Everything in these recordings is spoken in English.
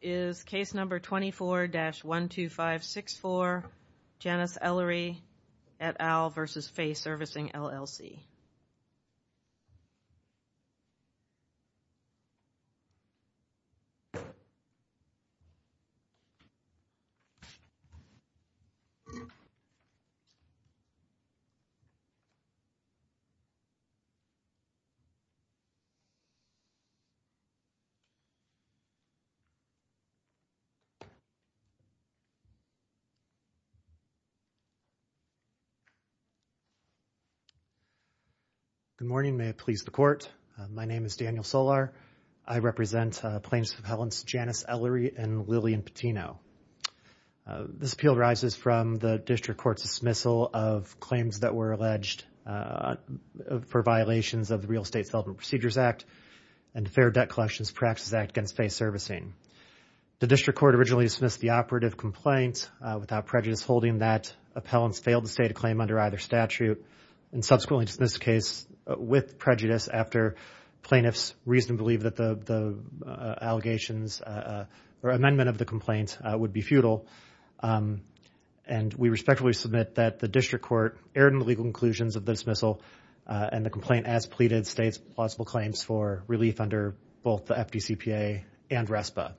is case number 24-12564, Janice Ellery et al. v. Fay Servicing, LLC. Good morning. May it please the Court. My name is Daniel Solar. I represent Plains of Helens Janice Ellery and Lillian Patino. This appeal arises from the District Court's dismissal of claims that were alleged for violations of the Real Estate Development Procedures Act and Fair Debt Collections Practices Act against Fay Servicing. The District Court originally dismissed the operative complaint without prejudice holding that appellants failed to state a claim under either statute and subsequently dismissed the case with prejudice after plaintiffs reasonably believed that the allegations or amendment of the complaint would be futile. And we respectfully submit that the District Court erred in the legal conclusions of the dismissal and the complaint as pleaded states plausible claims for relief under both the FDCPA and RESPA.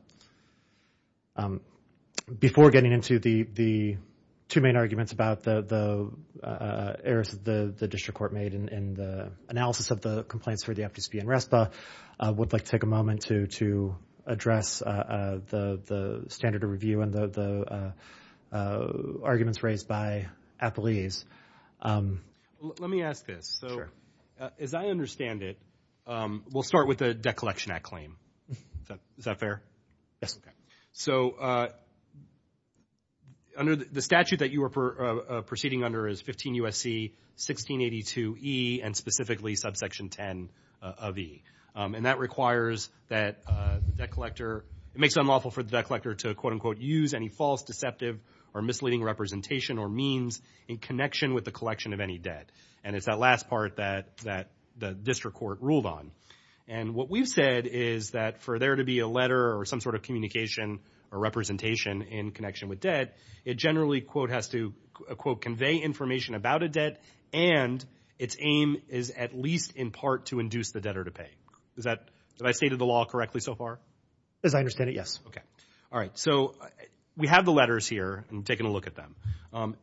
Before getting into the two main arguments about the errors the District Court made in the analysis of the complaints for the FDCPA and RESPA, I would like to take a moment to address the standard of review and the arguments raised by appellees. Let me ask this. As I understand it, we'll start with the Debt Collection Act claim. Is that fair? Yes. So under the statute that you are proceeding under is 15 U.S.C. 1682e and specifically subsection 10 of e. And that requires that the debt collector, it makes it unlawful for the debt collector to quote unquote use any false, deceptive, or misleading representation or means in connection with the collection of any debt. And it's that last part that the District Court ruled on. And what we've said is that for there to be a letter or some sort of communication or representation in connection with debt, it generally quote has to quote convey information about a debt and its aim is at least in part to induce the debtor to pay. Is that, have I stated the correctly so far? As I understand it, yes. Okay. All right. So we have the letters here and taking a look at them.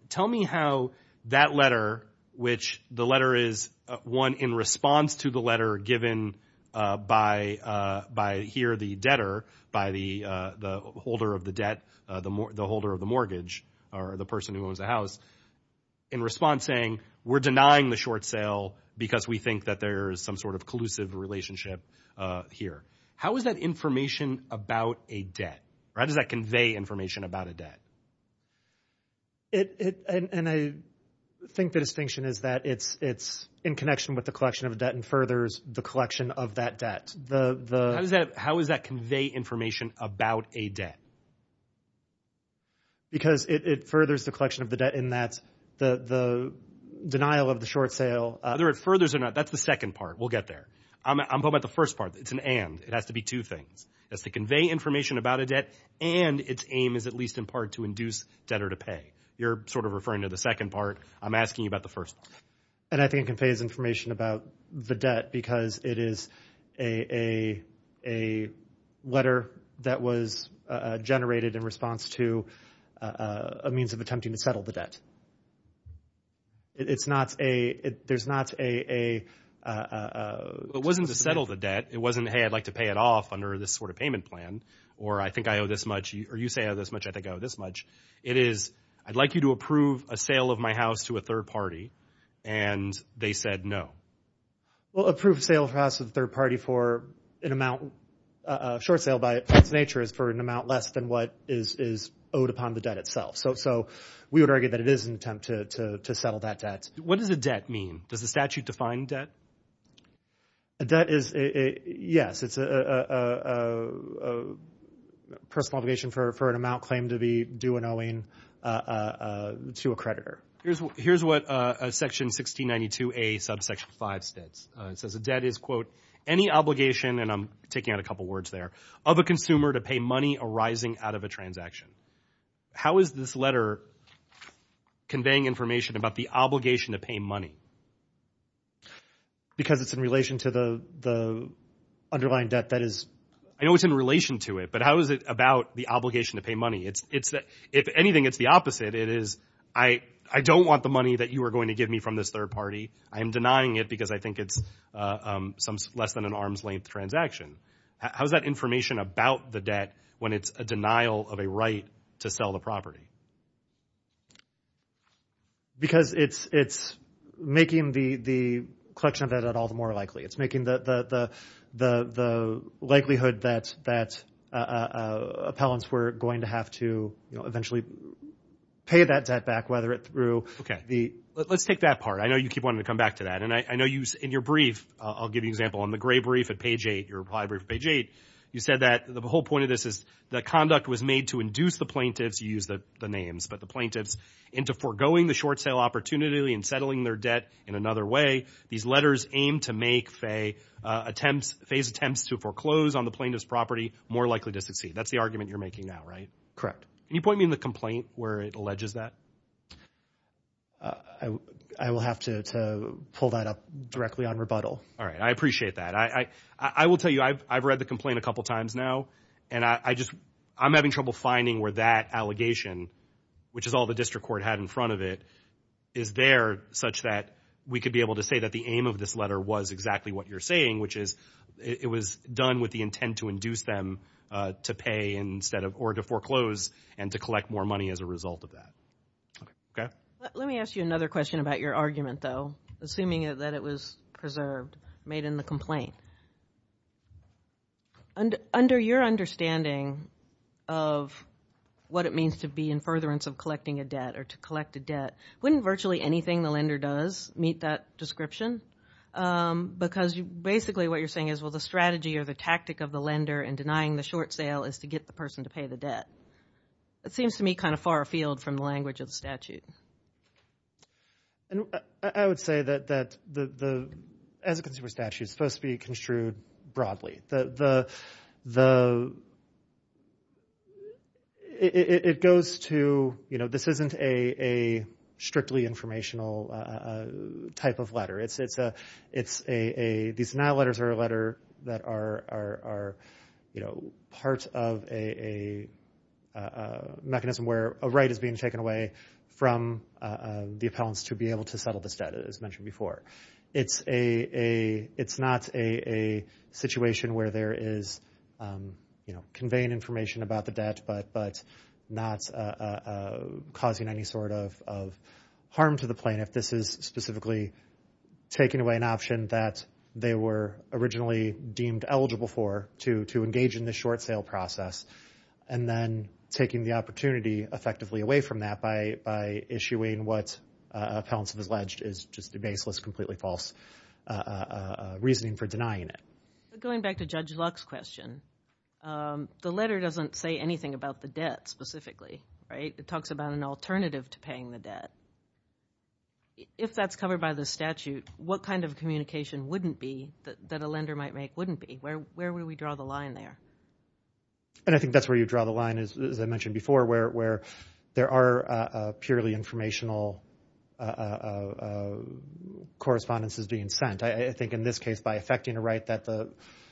Tell me how that letter, which the letter is one in response to the letter given by here the debtor, by the holder of the debt, the holder of the mortgage or the person who owns the house in response saying, we're denying the short sale is a relationship here. How is that information about a debt? How does that convey information about a debt? It, and I think the distinction is that it's, it's in connection with the collection of a debt and furthers the collection of that debt. How does that, how is that convey information about a debt? Because it, it furthers the collection of the debt and that's the, the denial of the short sale. Whether it furthers or not, that's the second part. We'll get there. I'm talking about the first part. It's an and, it has to be two things. It has to convey information about a debt and its aim is at least in part to induce debtor to pay. You're sort of referring to the second part. I'm asking you about the first part. And I think it conveys information about the debt because it is a, a, a letter that was generated in response to a means of attempting to settle the debt. It's not a, there's not a, a, uh, uh, it wasn't to settle the debt. It wasn't, Hey, I'd like to pay it off under this sort of payment plan. Or I think I owe this much or you say I owe this much. I think I owe this much. It is, I'd like you to approve a sale of my house to a third party. And they said no. Well, approve sale of house to the third party for an amount, a short sale by its nature is for an amount less than what is, is owed upon the debt itself. So, so we would argue that it is an attempt to, to, to settle that debt. What does a debt mean? Does the statute define debt? A debt is a, yes, it's a, a, a, a personal obligation for, for an amount claim to be due an owing, uh, uh, to a creditor. Here's what, here's what, uh, section 1692A subsection five states. Uh, it says a debt is quote, any obligation, and I'm taking out a couple of words there, of a consumer to pay money arising out of a transaction. How is this letter conveying information about the obligation to pay money? Because it's in relation to the, the underlying debt that is. I know it's in relation to it, but how is it about the obligation to pay money? It's, it's, if anything, it's the opposite. It is, I, I don't want the money that you are going to give me from this third party. I am denying it because I think it's, uh, um, some less than an arm's length transaction. How's that information about the debt when it's a denial of a right to sell the property? Because it's, it's making the, the collection of that at all the more likely. It's making the, the, the, the, the likelihood that, that, uh, uh, appellants were going to have to, you know, eventually pay that debt back, whether it through the, let's take that part. I know you keep wanting to come back to that. And I, I know you in your brief, I'll give you an example on the gray brief at page eight, your library page eight, you said that the whole point of this is the conduct was made to induce the plaintiffs use the names, but the plaintiffs into foregoing the short sale opportunity and settling their debt in another way. These letters aim to make Faye attempts, Faye's attempts to foreclose on the plaintiff's property more likely to succeed. That's the argument you're making now, right? Correct. Can you point me in the complaint where it alleges that, uh, I will have to, to pull that up directly on rebuttal. All right. I appreciate that. I, I, I will tell you, I've, I've read the complaint a couple of times now and I just, I'm having trouble finding where that allegation, which is all the district court had in front of it is there such that we could be able to say that the aim of this letter was exactly what you're saying, which is it was done with the intent to induce them, uh, to pay instead of, or to foreclose and to collect more money as a result of that. Okay. Let me ask you another question about your argument though, assuming that it was preserved, made in the complaint. Under, under your understanding of what it means to be in furtherance of collecting a debt or to collect a debt, wouldn't virtually anything the lender does meet that description? Um, because basically what you're saying is, well, the strategy or the tactic of the lender in denying the short sale is to get the person to pay the debt. It seems to me kind of far afield from the language of the statute. And I, I would say that, that the, the, as a consumer statute is supposed to be construed broadly. The, the, the, it, it, it goes to, you know, this isn't a, a strictly informational, uh, type of letter. It's, it's a, it's a, a, these now letters are a letter that are, are, are, you know, parts of a, a, uh, mechanism where a right is being taken away from, uh, uh, the appellants to be able to settle this debt as mentioned before. It's a, a, it's not a, a situation where there is, um, you know, conveying information about the debt, but, but not, uh, uh, causing any sort of, of harm to the plaintiff. This is specifically taking away an option that they were originally deemed eligible for to, to engage in the short sale process. And then taking the opportunity effectively away from that by, by issuing what, uh, appellants have alleged is just baseless, completely false, uh, uh, uh, reasoning for denying it. But going back to Judge Luck's question, um, the letter doesn't say anything about the debt specifically, right? It talks about an alternative to paying the debt. If that's covered by the statute, what kind of communication wouldn't be that, that a lender might make wouldn't be? Where, where would we draw the line there? And I think that's where you draw the line is, as I mentioned before, where, where there are, uh, uh, purely informational, uh, uh, uh, correspondences being sent. I, I think in this case by effecting a right that the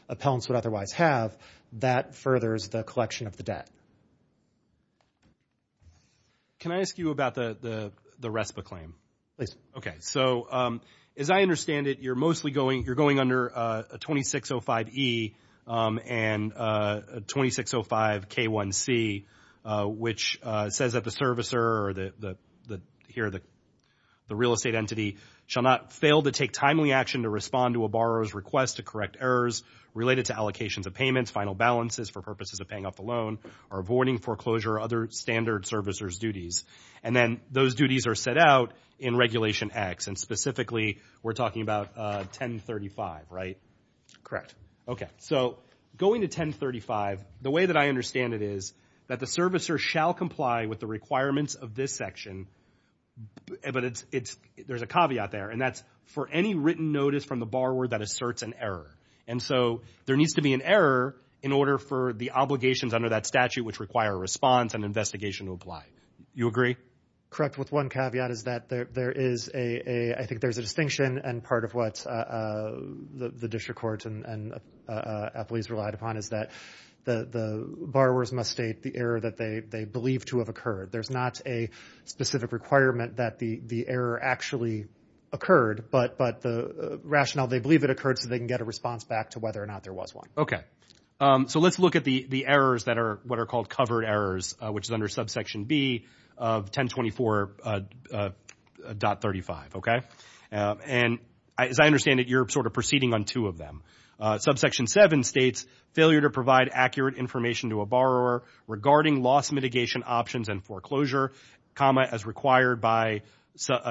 appellants would otherwise have, that furthers the collection of the debt. Can I ask you about the, the, the RESPA claim? Please. Okay. So, um, as I understand it, you're mostly going, you're going under, uh, a 2605E, um, and, uh, a 2605K1C, uh, which, uh, says that the servicer or the, the, the, here, the, the real estate entity shall not fail to take timely action to respond to a borrower's request to correct errors related to allocations of payments, final balances for purposes of paying off the loan or avoiding foreclosure or other standard servicers duties. And then those duties are set out in Regulation X, and specifically we're talking about, uh, 1035, right? Correct. Okay. So going to 1035, the way that I understand it is that the servicer shall comply with the requirements of this section, but it's, it's, there's a caveat there, and that's for any written notice from the borrower that asserts an error. And so there needs to be an error in order for the obligations under that statute, which require a response and investigation to apply. You agree? Correct. With one caveat is that there, there is a, a, I think there's a distinction and part of what, uh, uh, the, the district court and, and, uh, uh, employees relied upon is that the, the borrowers must state the error that they, they believe to have occurred. There's not a specific requirement that the, the error actually occurred, but, but the rationale they believe it occurred so they can get a response back to whether or not there was one. Okay. Um, so let's look at the, the errors that are what are called covered errors, uh, which is under subsection B of 1024, uh, uh, uh, dot 35. Okay. Um, and I, as I understand it, you're sort of proceeding on two of them. Uh, subsection seven states failure to provide accurate information to a borrower regarding loss mitigation options and foreclosure, comma, as required by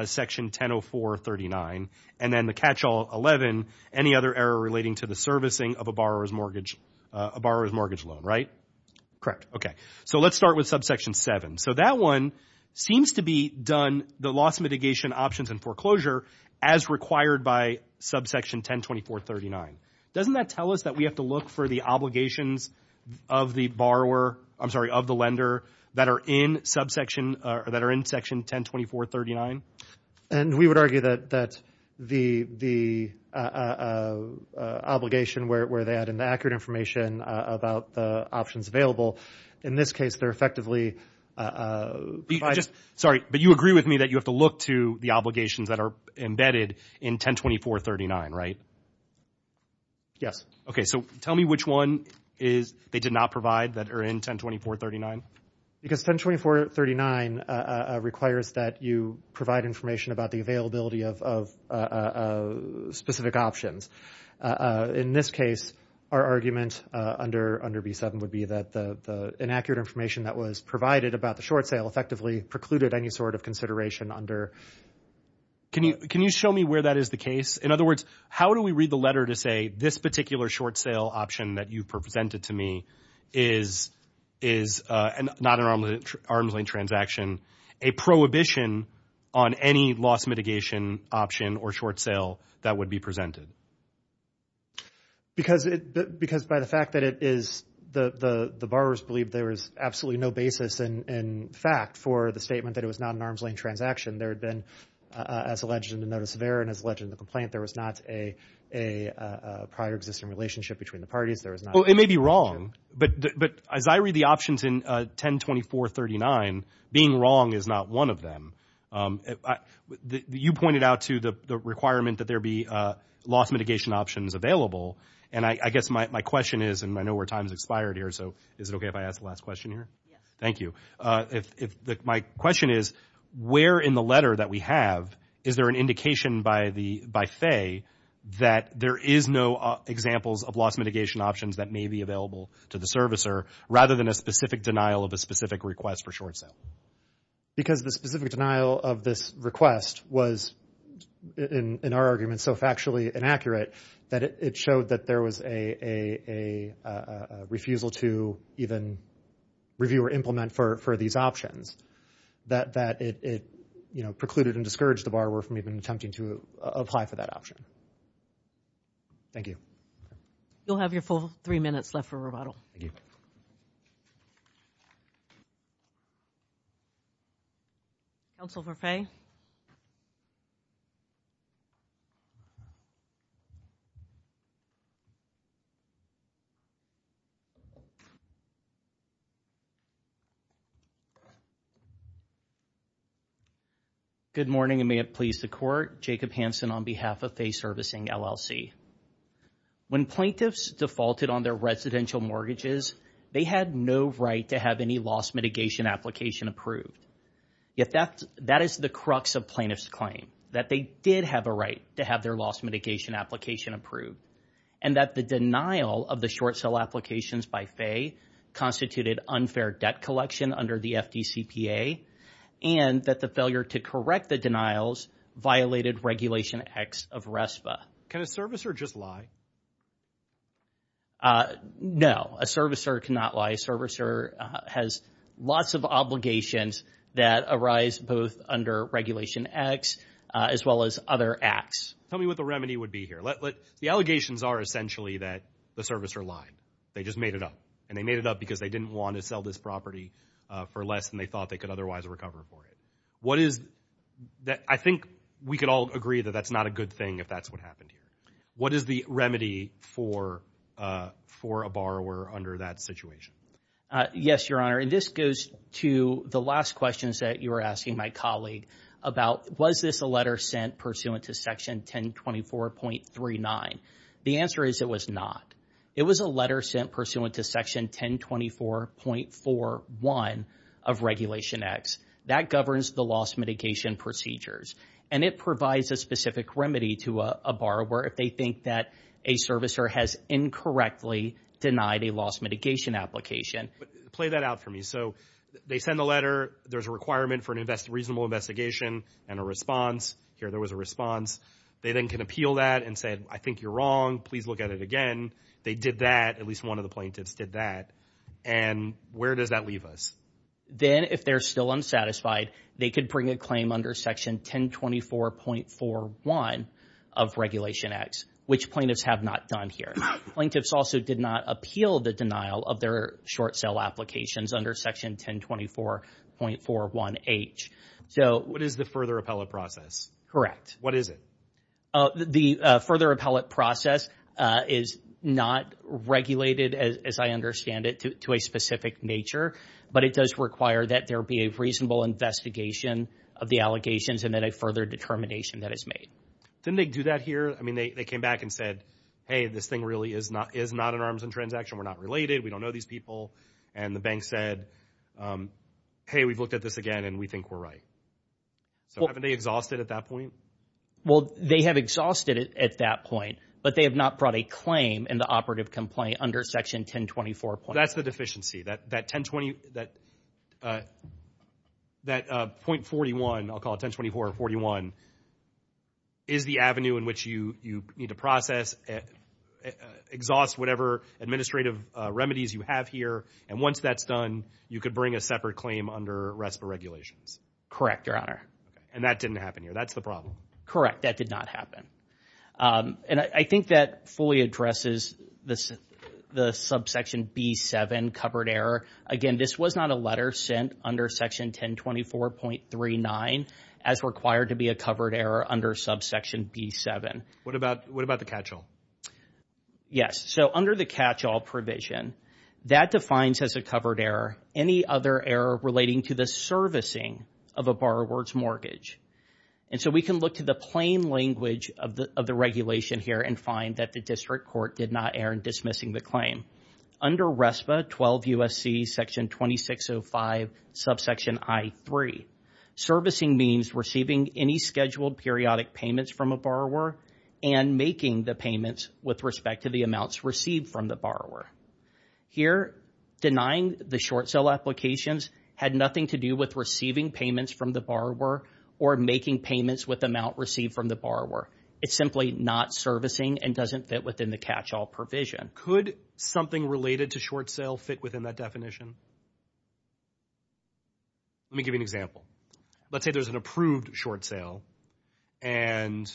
section 100439. And then the catch all 11, any other error relating to the servicing of a borrower's mortgage, uh, a borrower's mortgage loan, right? Correct. Okay. So let's start with subsection seven. So that one seems to be done, the loss mitigation options and foreclosure as required by subsection 102439. Doesn't that tell us that we have to look for the obligations of the borrower, I'm sorry, of the lender that are in subsection, uh, that are in section 102439? And we would argue that, that the, the, uh, uh, uh, uh, obligation where, where they add in the accurate information, uh, about the options available. In this case, they're effectively, uh, uh, just, sorry, but you agree with me that you have to look to the obligations that are embedded in 102439, right? Yes. Okay. So tell me which one is, they did not provide that are in 102439? Because 102439, uh, uh, requires that you provide information about the availability of, of, uh, uh, uh, specific options. Uh, in this case, our argument, uh, under, under B7 would be that the, the inaccurate information that was provided about the short sale effectively precluded any sort of consideration under. Can you, can you show me where that is the case? In other words, how do we read the letter to say this particular short sale option that you've presented to me is, is, uh, and not an arms lane transaction, a prohibition on any loss mitigation option or short sale that would be presented? Because it, because by the fact that it is the, the, the borrowers believe there was absolutely no basis in, in fact, for the statement that it was not an arms lane transaction. There had been, uh, as alleged in the notice of error and as alleged in the complaint, there was not a, a, a prior existing relationship between the parties. There was not. Well, it may be wrong, but, but as I read the options in, uh, 10, 24, 39, being wrong is not one of them. Um, I, the, you pointed out to the, the requirement that there be, uh, loss mitigation options available. And I, I guess my, my question is, and I know where time's expired here, so is it okay if I ask the last question here? Yes. Thank you. Uh, if, if the, my question is, where in the letter that we have, is there an indication by the, by Faye that there is no, uh, examples of loss mitigation options that may be available to the servicer rather than a specific denial of a specific request for short sale? Because the specific denial of this request was in, in our argument so factually inaccurate that it, it showed that there was a, a, a, a refusal to even review or implement for, for these options. That, that it, it, you know, precluded and discouraged the borrower from even attempting to apply for that option. Thank you. You'll have your full three minutes left for rebuttal. Thank you. Counsel for Faye? Good morning, and may it please the Court. Jacob Hansen on behalf of Faye Servicing, LLC. When plaintiffs defaulted on their residential mortgages, they had no right to have any loss mitigation application approved. Yet that, that is the crux of plaintiff's claim, that they did have a right to have their loss mitigation application approved, and that the denial of the short sale applications by Faye constituted unfair debt collection under the FDCPA, and that the failure to correct the denials violated Regulation X of RESPA. Can a servicer just lie? No, a servicer cannot lie. A servicer has lots of obligations that arise both under Regulation X as well as other acts. Tell me what the remedy would be here. Let, let, the allegations are essentially that the servicer lied. They just made it up, and they made it up because they didn't want to sell this property for less than they thought they could otherwise recover for it. What is, I think we could all agree that that's not a good thing if that's what happened here. What is the remedy for, for a borrower under that situation? Yes, Your Honor, and this goes to the last questions that you were asking my colleague about, was this a letter sent pursuant to Section 1024.39? The answer is it was not. It was a letter sent pursuant to Section 1024.41 of Regulation X. That governs the loss mitigation procedures, and it provides a specific remedy to a borrower if they think that a servicer has incorrectly denied a loss mitigation application. Play that out for me. So they send the letter, there's a requirement for a reasonable investigation and a response. Here, there was a response. They then can appeal that and say, I think you're wrong, please look at it again. They did that, at least one of the plaintiffs did that. And where does that leave us? Then if they're still unsatisfied, they could bring a claim under Section 1024.41 of Regulation X, which plaintiffs have not done here. Plaintiffs also did not appeal the denial of their short sale applications under Section 1024.41H. So what is the further appellate process? Correct. What is it? The further appellate process is not regulated, as I understand it, to a specific nature, but it does require that there be a reasonable investigation of the allegations and then a further determination that is made. Didn't they do that here? I mean, they came back and said, hey, this thing really is not an arms and transaction, we're not related, we don't know these people. And the bank said, hey, we've looked at this again and we think we're right. So haven't they exhausted at that point? Well, they have exhausted it at that point, but they have not brought a claim in the operative complaint under Section 1024.41H. That's the deficiency, that 1020, that .41, I'll call it 1024.41, is the avenue in which you need to process, exhaust whatever administrative remedies you have here. And once that's done, you could bring a separate claim under RESPA regulations. Correct, Your Honor. And that didn't happen here, that's the problem? Correct, that did not happen. And I think that fully addresses the subsection B7, covered error. Again, this was not a letter sent under Section 1024.39 as required to be a covered error under subsection B7. What about the catch-all? Yes, so under the catch-all provision, that defines as a covered error any other error relating to the servicing of a borrower's mortgage. And so we can look to the plain language of the regulation here and find that the district court did not err in dismissing the claim. Under RESPA 12 U.S.C. Section 2605, subsection I.3, servicing means receiving any scheduled periodic payments from a borrower and making the payments with respect to the amounts received from the borrower. Here, denying the short sale applications had nothing to do with receiving payments from the borrower or making payments with the amount received from the borrower. It's simply not servicing and doesn't fit within the catch-all provision. Could something related to short sale fit within that definition? Let me give you an example. Let's say there's an approved short sale and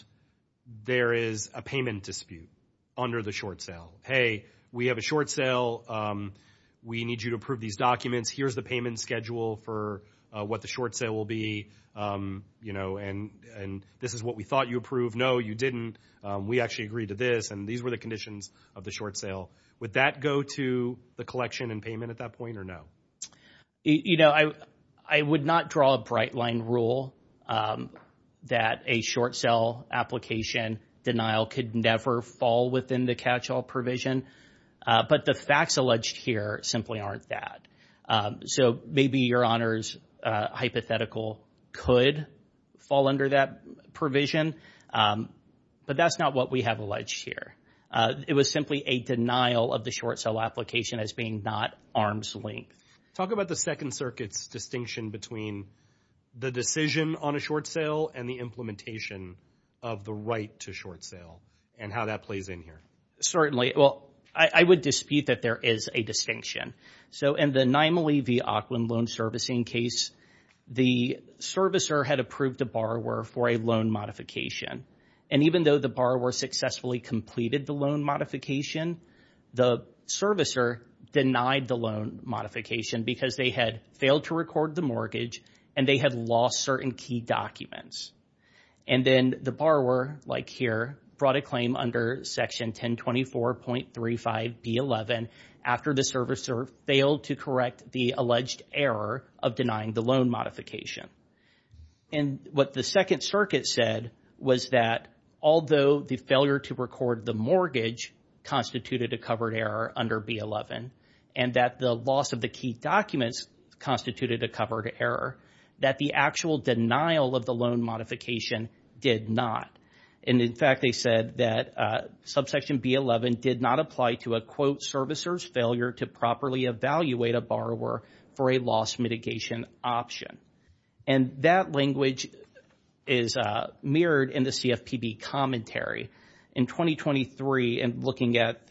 there is a payment dispute under the short sale. Hey, we have a short sale. We need you to approve these documents. Here's the payment schedule for what the short sale will be, you know, and this is what we thought you approved. No, you didn't. We actually agreed to this and these were the conditions of the short sale. Would that go to the collection and payment at that point or no? You know, I would not draw a bright-line rule that a short sale application denial could never fall within the catch-all provision, but the facts alleged here simply aren't that. So maybe your Honor's hypothetical could fall under that provision, but that's not what we have alleged here. It was simply a denial of the short sale application as being not arm's length. Talk about the Second Circuit's distinction between the decision on a short sale and the implementation of the right to short sale and how that plays in here. Certainly. Well, I would dispute that there is a distinction. So in the Nimalee v. Auckland loan servicing case, the servicer had approved the borrower for a loan modification, and even though the borrower successfully completed the loan modification, the servicer denied the loan modification because they had failed to record the mortgage and they had lost certain key documents. And then the borrower, like here, brought a claim under Section 1024.35B11 after the servicer failed to correct the alleged error of denying the loan modification. And what the Second Circuit said was that although the failure to record the mortgage constituted a covered error under B11 and that the loss of the key documents constituted a covered error, that the actual denial of the loan modification did not. And in fact, they said that subsection B11 did not apply to a quote servicers failure to properly evaluate a borrower for a loss mitigation option. And that language is mirrored in the CFPB commentary. In 2023, and looking at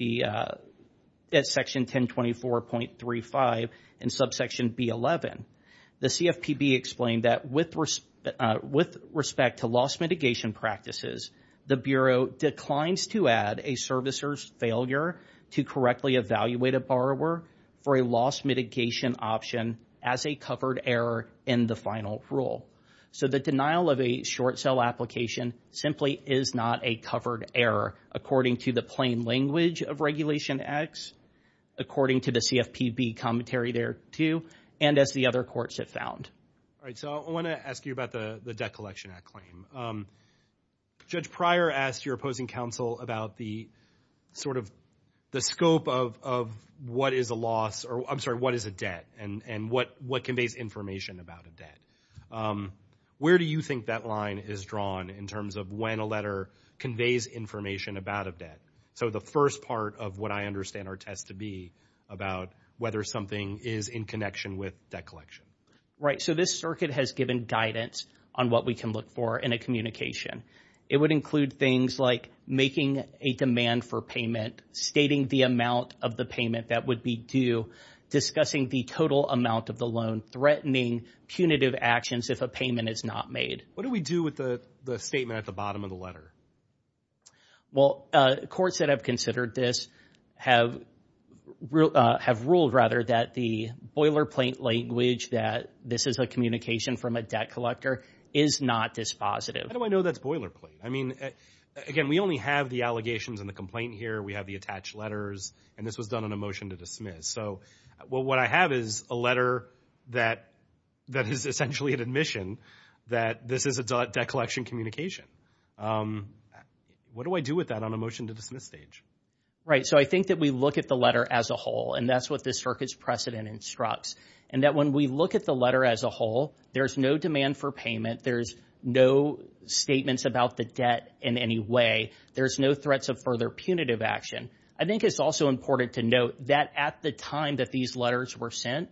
Section 1024.35 and subsection B11, the CFPB explained that with respect to loss mitigation practices, the Bureau declines to add a servicers failure to correctly evaluate a borrower for a loss mitigation option as a covered error in the final rule. So the denial of a short sell application simply is not a covered error according to the plain language of Regulation X, according to the CFPB commentary there too, and as the other courts have found. All right. So I want to ask you about the Debt Collection Act claim. Judge Pryor asked your opposing counsel about the sort of the scope of what is a loss or I'm sorry, what is a debt and what conveys information about a debt. Where do you think that line is drawn in terms of when a letter conveys information about a debt? So the first part of what I understand our test to be about whether something is in connection with debt collection. Right. So this circuit has given guidance on what we can look for in a communication. It would include things like making a demand for payment, stating the amount of the payment that would be due, discussing the total amount of the loan, threatening punitive actions if a payment is not made. What do we do with the statement at the bottom of the letter? Well, courts that have considered this have ruled rather that the boilerplate language that this is a communication from a debt collector is not dispositive. How do I know that's boilerplate? I mean, again, we only have the allegations and the complaint here. We have the attached letters, and this was done on a motion to dismiss. So what I have is a letter that is essentially an admission that this is a debt collection communication. What do I do with that on a motion to dismiss stage? Right. So I think that we look at the letter as a whole, and that's what this circuit's precedent instructs. And that when we look at the letter as a whole, there's no demand for payment. There's no statements about the debt in any way. There's no threats of further punitive action. I think it's also important to note that at the time that these letters were sent,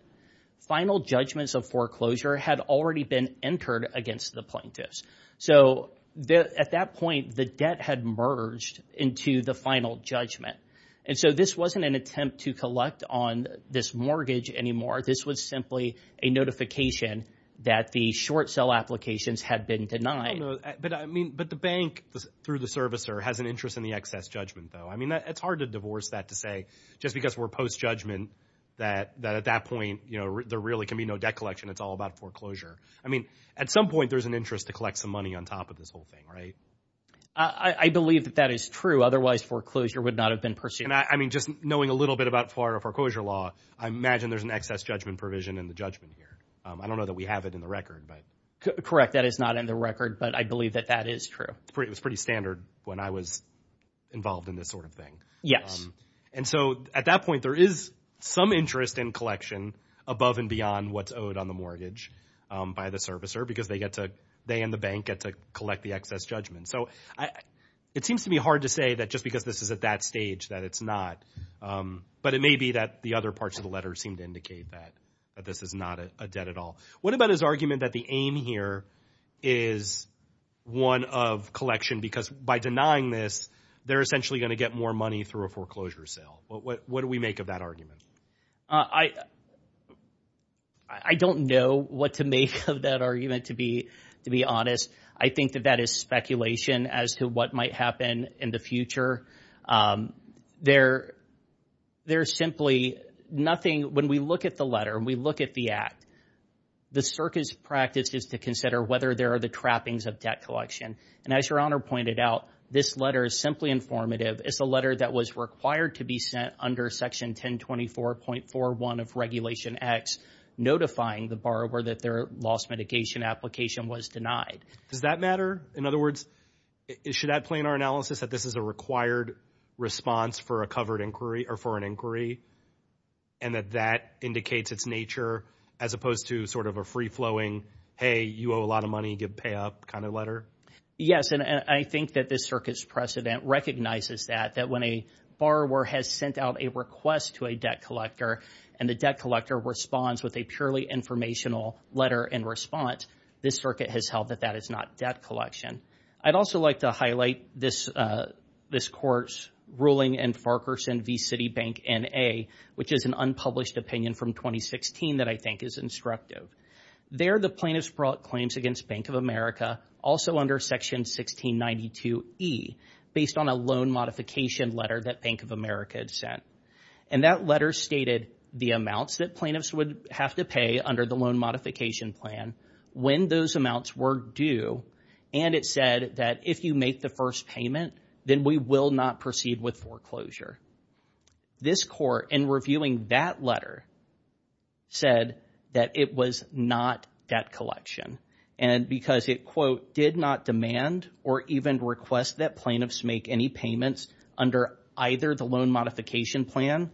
final judgments of foreclosure had already been entered against the plaintiffs. So at that point, the debt had merged into the final judgment. And so this wasn't an attempt to collect on this mortgage anymore. This was simply a notification that the short sale applications had been denied. But I mean, but the bank, through the servicer, has an interest in the excess judgment, though. I mean, it's hard to divorce that to say just because we're post-judgment that at that point, you know, there really can be no debt collection. It's all about foreclosure. I mean, at some point, there's an interest to collect some money on top of this whole thing, right? I believe that that is true. Otherwise, foreclosure would not have been pursued. I mean, just knowing a little bit about Florida foreclosure law, I imagine there's an excess judgment provision in the judgment here. I don't know that we have it in the record, but... Correct. That is not in the record, but I believe that that is true. It was pretty standard when I was involved in this sort of thing. Yes. And so at that point, there is some interest in collection above and beyond what's owed on the mortgage by the servicer because they get to, they and the bank get to collect the excess judgment. So it seems to be hard to say that just because this is at that stage that it's not, but it may be that the other parts of the letter seem to indicate that this is not a debt at all. What about his argument that the aim here is one of collection? Because by denying this, they're essentially going to get more money through a foreclosure sale. What do we make of that argument? I don't know what to make of that argument, to be honest. I think that that is speculation as to what might happen in the future. There we look at the act. The circus practice is to consider whether there are the trappings of debt collection. And as your honor pointed out, this letter is simply informative. It's a letter that was required to be sent under section 1024.41 of regulation X, notifying the borrower that their loss mitigation application was denied. Does that matter? In other words, should that play in our analysis that this is a required response for a covered inquiry or for an inquiry and that that indicates its nature as opposed to sort of a free flowing, hey, you owe a lot of money, you get pay up kind of letter? Yes. And I think that this circus precedent recognizes that that when a borrower has sent out a request to a debt collector and the debt collector responds with a purely informational letter in response, this circuit has held that that is not debt collection. I'd also like to highlight this this court's ruling and Farquharson v. Citibank N.A., which is an unpublished opinion from 2016 that I think is instructive. There, the plaintiffs brought claims against Bank of America, also under section 1692 E, based on a loan modification letter that Bank of America had sent. And that letter stated the amounts that plaintiffs would have to pay under the loan modification plan when those amounts were due. And it said that if you make the first payment, then we will not proceed with foreclosure. This court, in reviewing that letter, said that it was not debt collection and because it, quote, did not demand or even request that plaintiffs make any payments under either the loan modification plan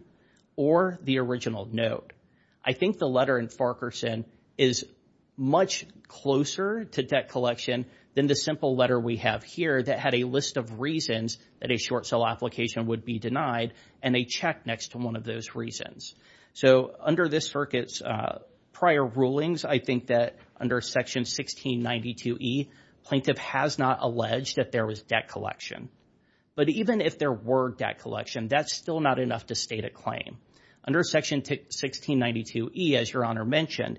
or the original note. I think the letter in Farquharson is much closer to debt collection than the simple letter we have here that had a list of reasons that a short sale application would be denied and a check next to one of those reasons. So under this circuit's prior rulings, I think that under section 1692 E, plaintiff has not alleged that there was debt collection. But even if there were debt collection, that's still not enough to state a claim. Under section 1692 E, as Your Honor mentioned,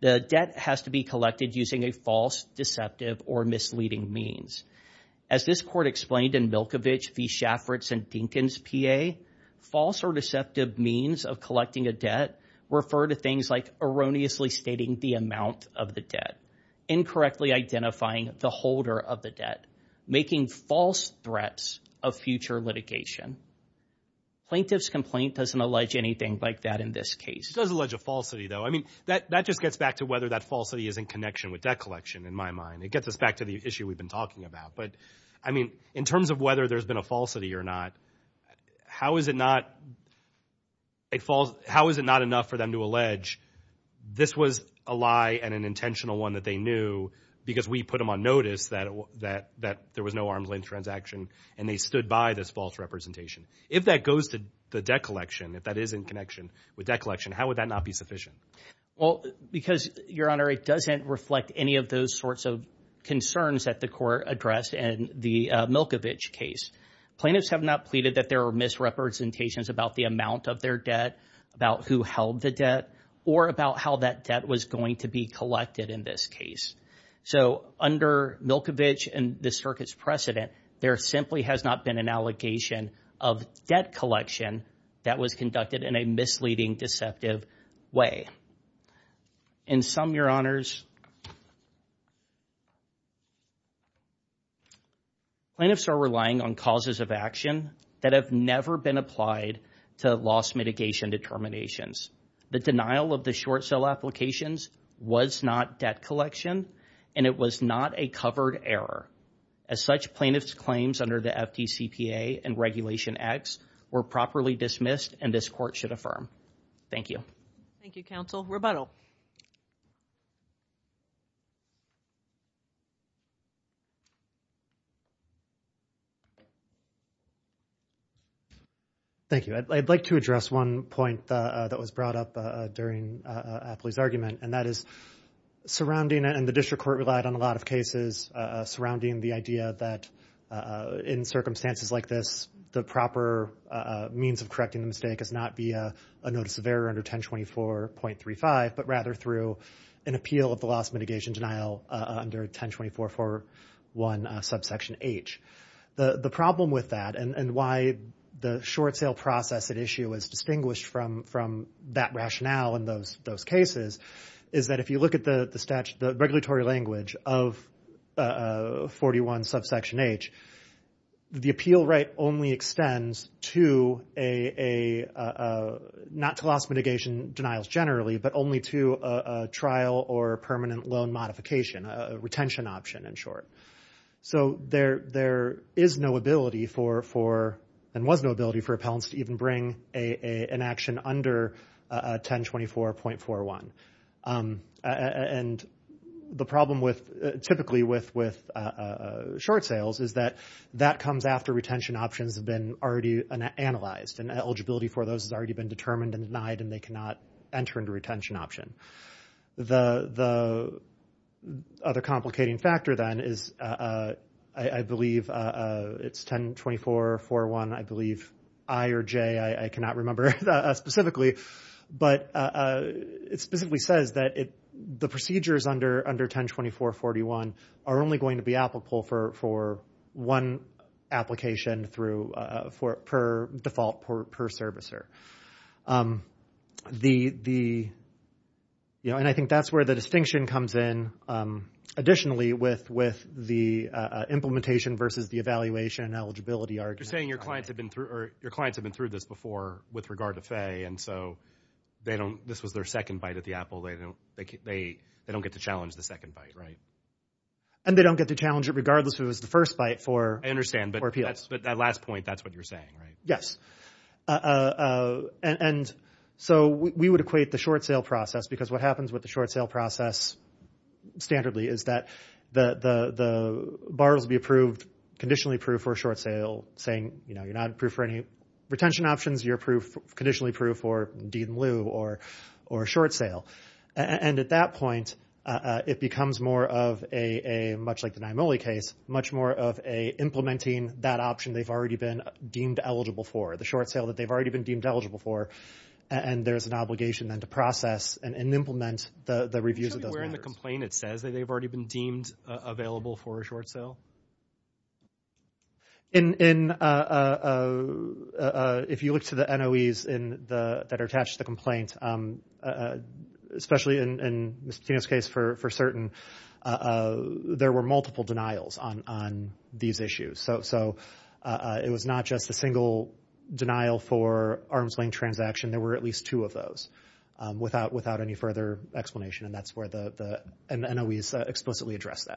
the debt has to be collected using a false deceptive or misleading means. As this court explained in Milkovich v. Shaffritz and Dinkins P.A., false or deceptive means of collecting a debt refer to things like erroneously stating the amount of the debt, incorrectly identifying the holder of the debt, making false threats of future litigation. Plaintiff's complaint doesn't allege anything like that in this case. It does allege a falsity, though. I mean, that just gets back to whether that falsity is in connection with debt collection, in my mind. It gets us back to the issue we've been talking about. But, I mean, in terms of whether there's been a falsity or not, how is it not enough for them to allege this was a lie and an intentional one that they knew because we put them on notice that there was no arm's length transaction and they stood by this false representation? If that goes to the debt collection, if that is in connection with debt collection, how would that not be sufficient? Well, because, Your Honor, it doesn't reflect any of those sorts of concerns that the court addressed in the Milkovich case. Plaintiffs have not pleaded that there were misrepresentations about the amount of their debt, about who held the debt, or about how that debt was going to be collected in this case. So, under Milkovich and the circuit's precedent, there simply has not been an allegation of debt collection that was conducted in a misleading deceptive way. In sum, Your Honors, plaintiffs are relying on causes of action that have never been applied to loss mitigation determinations. The denial of the short sale applications was not debt collection, and it was not a covered error. As such, plaintiffs' claims under the FDCPA and Regulation X were properly dismissed, and this court should affirm. Thank you. Thank you, counsel. Rebuttal. Thank you. I'd like to address one point that was brought up during Apley's argument, and that is surrounding, and the district court relied on a lot of cases surrounding the idea that in circumstances like this, the proper means of correcting the mistake is not via a notice of error under 1024.35, but rather through an appeal of the loss mitigation denial under 1024.41 subsection H. The problem with that, and why the short sale process at issue is distinguished from that rationale in those cases, is that if you look at the statutory language of 41 subsection H, the appeal right only extends not to loss mitigation denials generally, but only to a trial or permanent loan modification, a retention option in short. There is no ability, and was no ability, for appellants to even bring an action under 1024.41. The problem typically with short sales is that that comes after retention options have been already analyzed, and eligibility for those has already been determined and denied, and they cannot enter into retention option. The other complicating factor then is, I believe, it's 1024.41, I believe, I or J, I cannot remember specifically, but it specifically says that the procedures under 1024.41 are only going to be applicable for one application per default per servicer. I think that's where the distinction comes in, additionally, with the implementation versus the evaluation eligibility argument. You're saying your clients have been through this before with regard to FAA, and so this was their second bite at the apple. They don't get to challenge the second bite, right? And they don't get to challenge it regardless if it was the first bite for appeal. I understand, but that last point, that's what you're saying, right? Yes. We would equate the short sale process, because what happens with the short sale process standardly is that the borrower will be approved, conditionally approved for a short sale, saying you're not approved for any retention options, you're conditionally approved for deed in lieu or a short sale. And at that point, it becomes more of a, much like the Nyamoli case, much more of a implementing that option they've already been deemed eligible for, the short sale that they've already been deemed eligible for, and there's an obligation then to process and implement the reviews of those matters. Can you tell me where in the complaint it says that they've already been deemed available for a short sale? If you look to the NOEs that are attached to the complaint, especially in Ms. Patino's case for certain, there were multiple denials on these issues. So it was not just a single denial for arm's length transaction. There were at least two of those without any further explanation, and that's where the NOEs explicitly address that.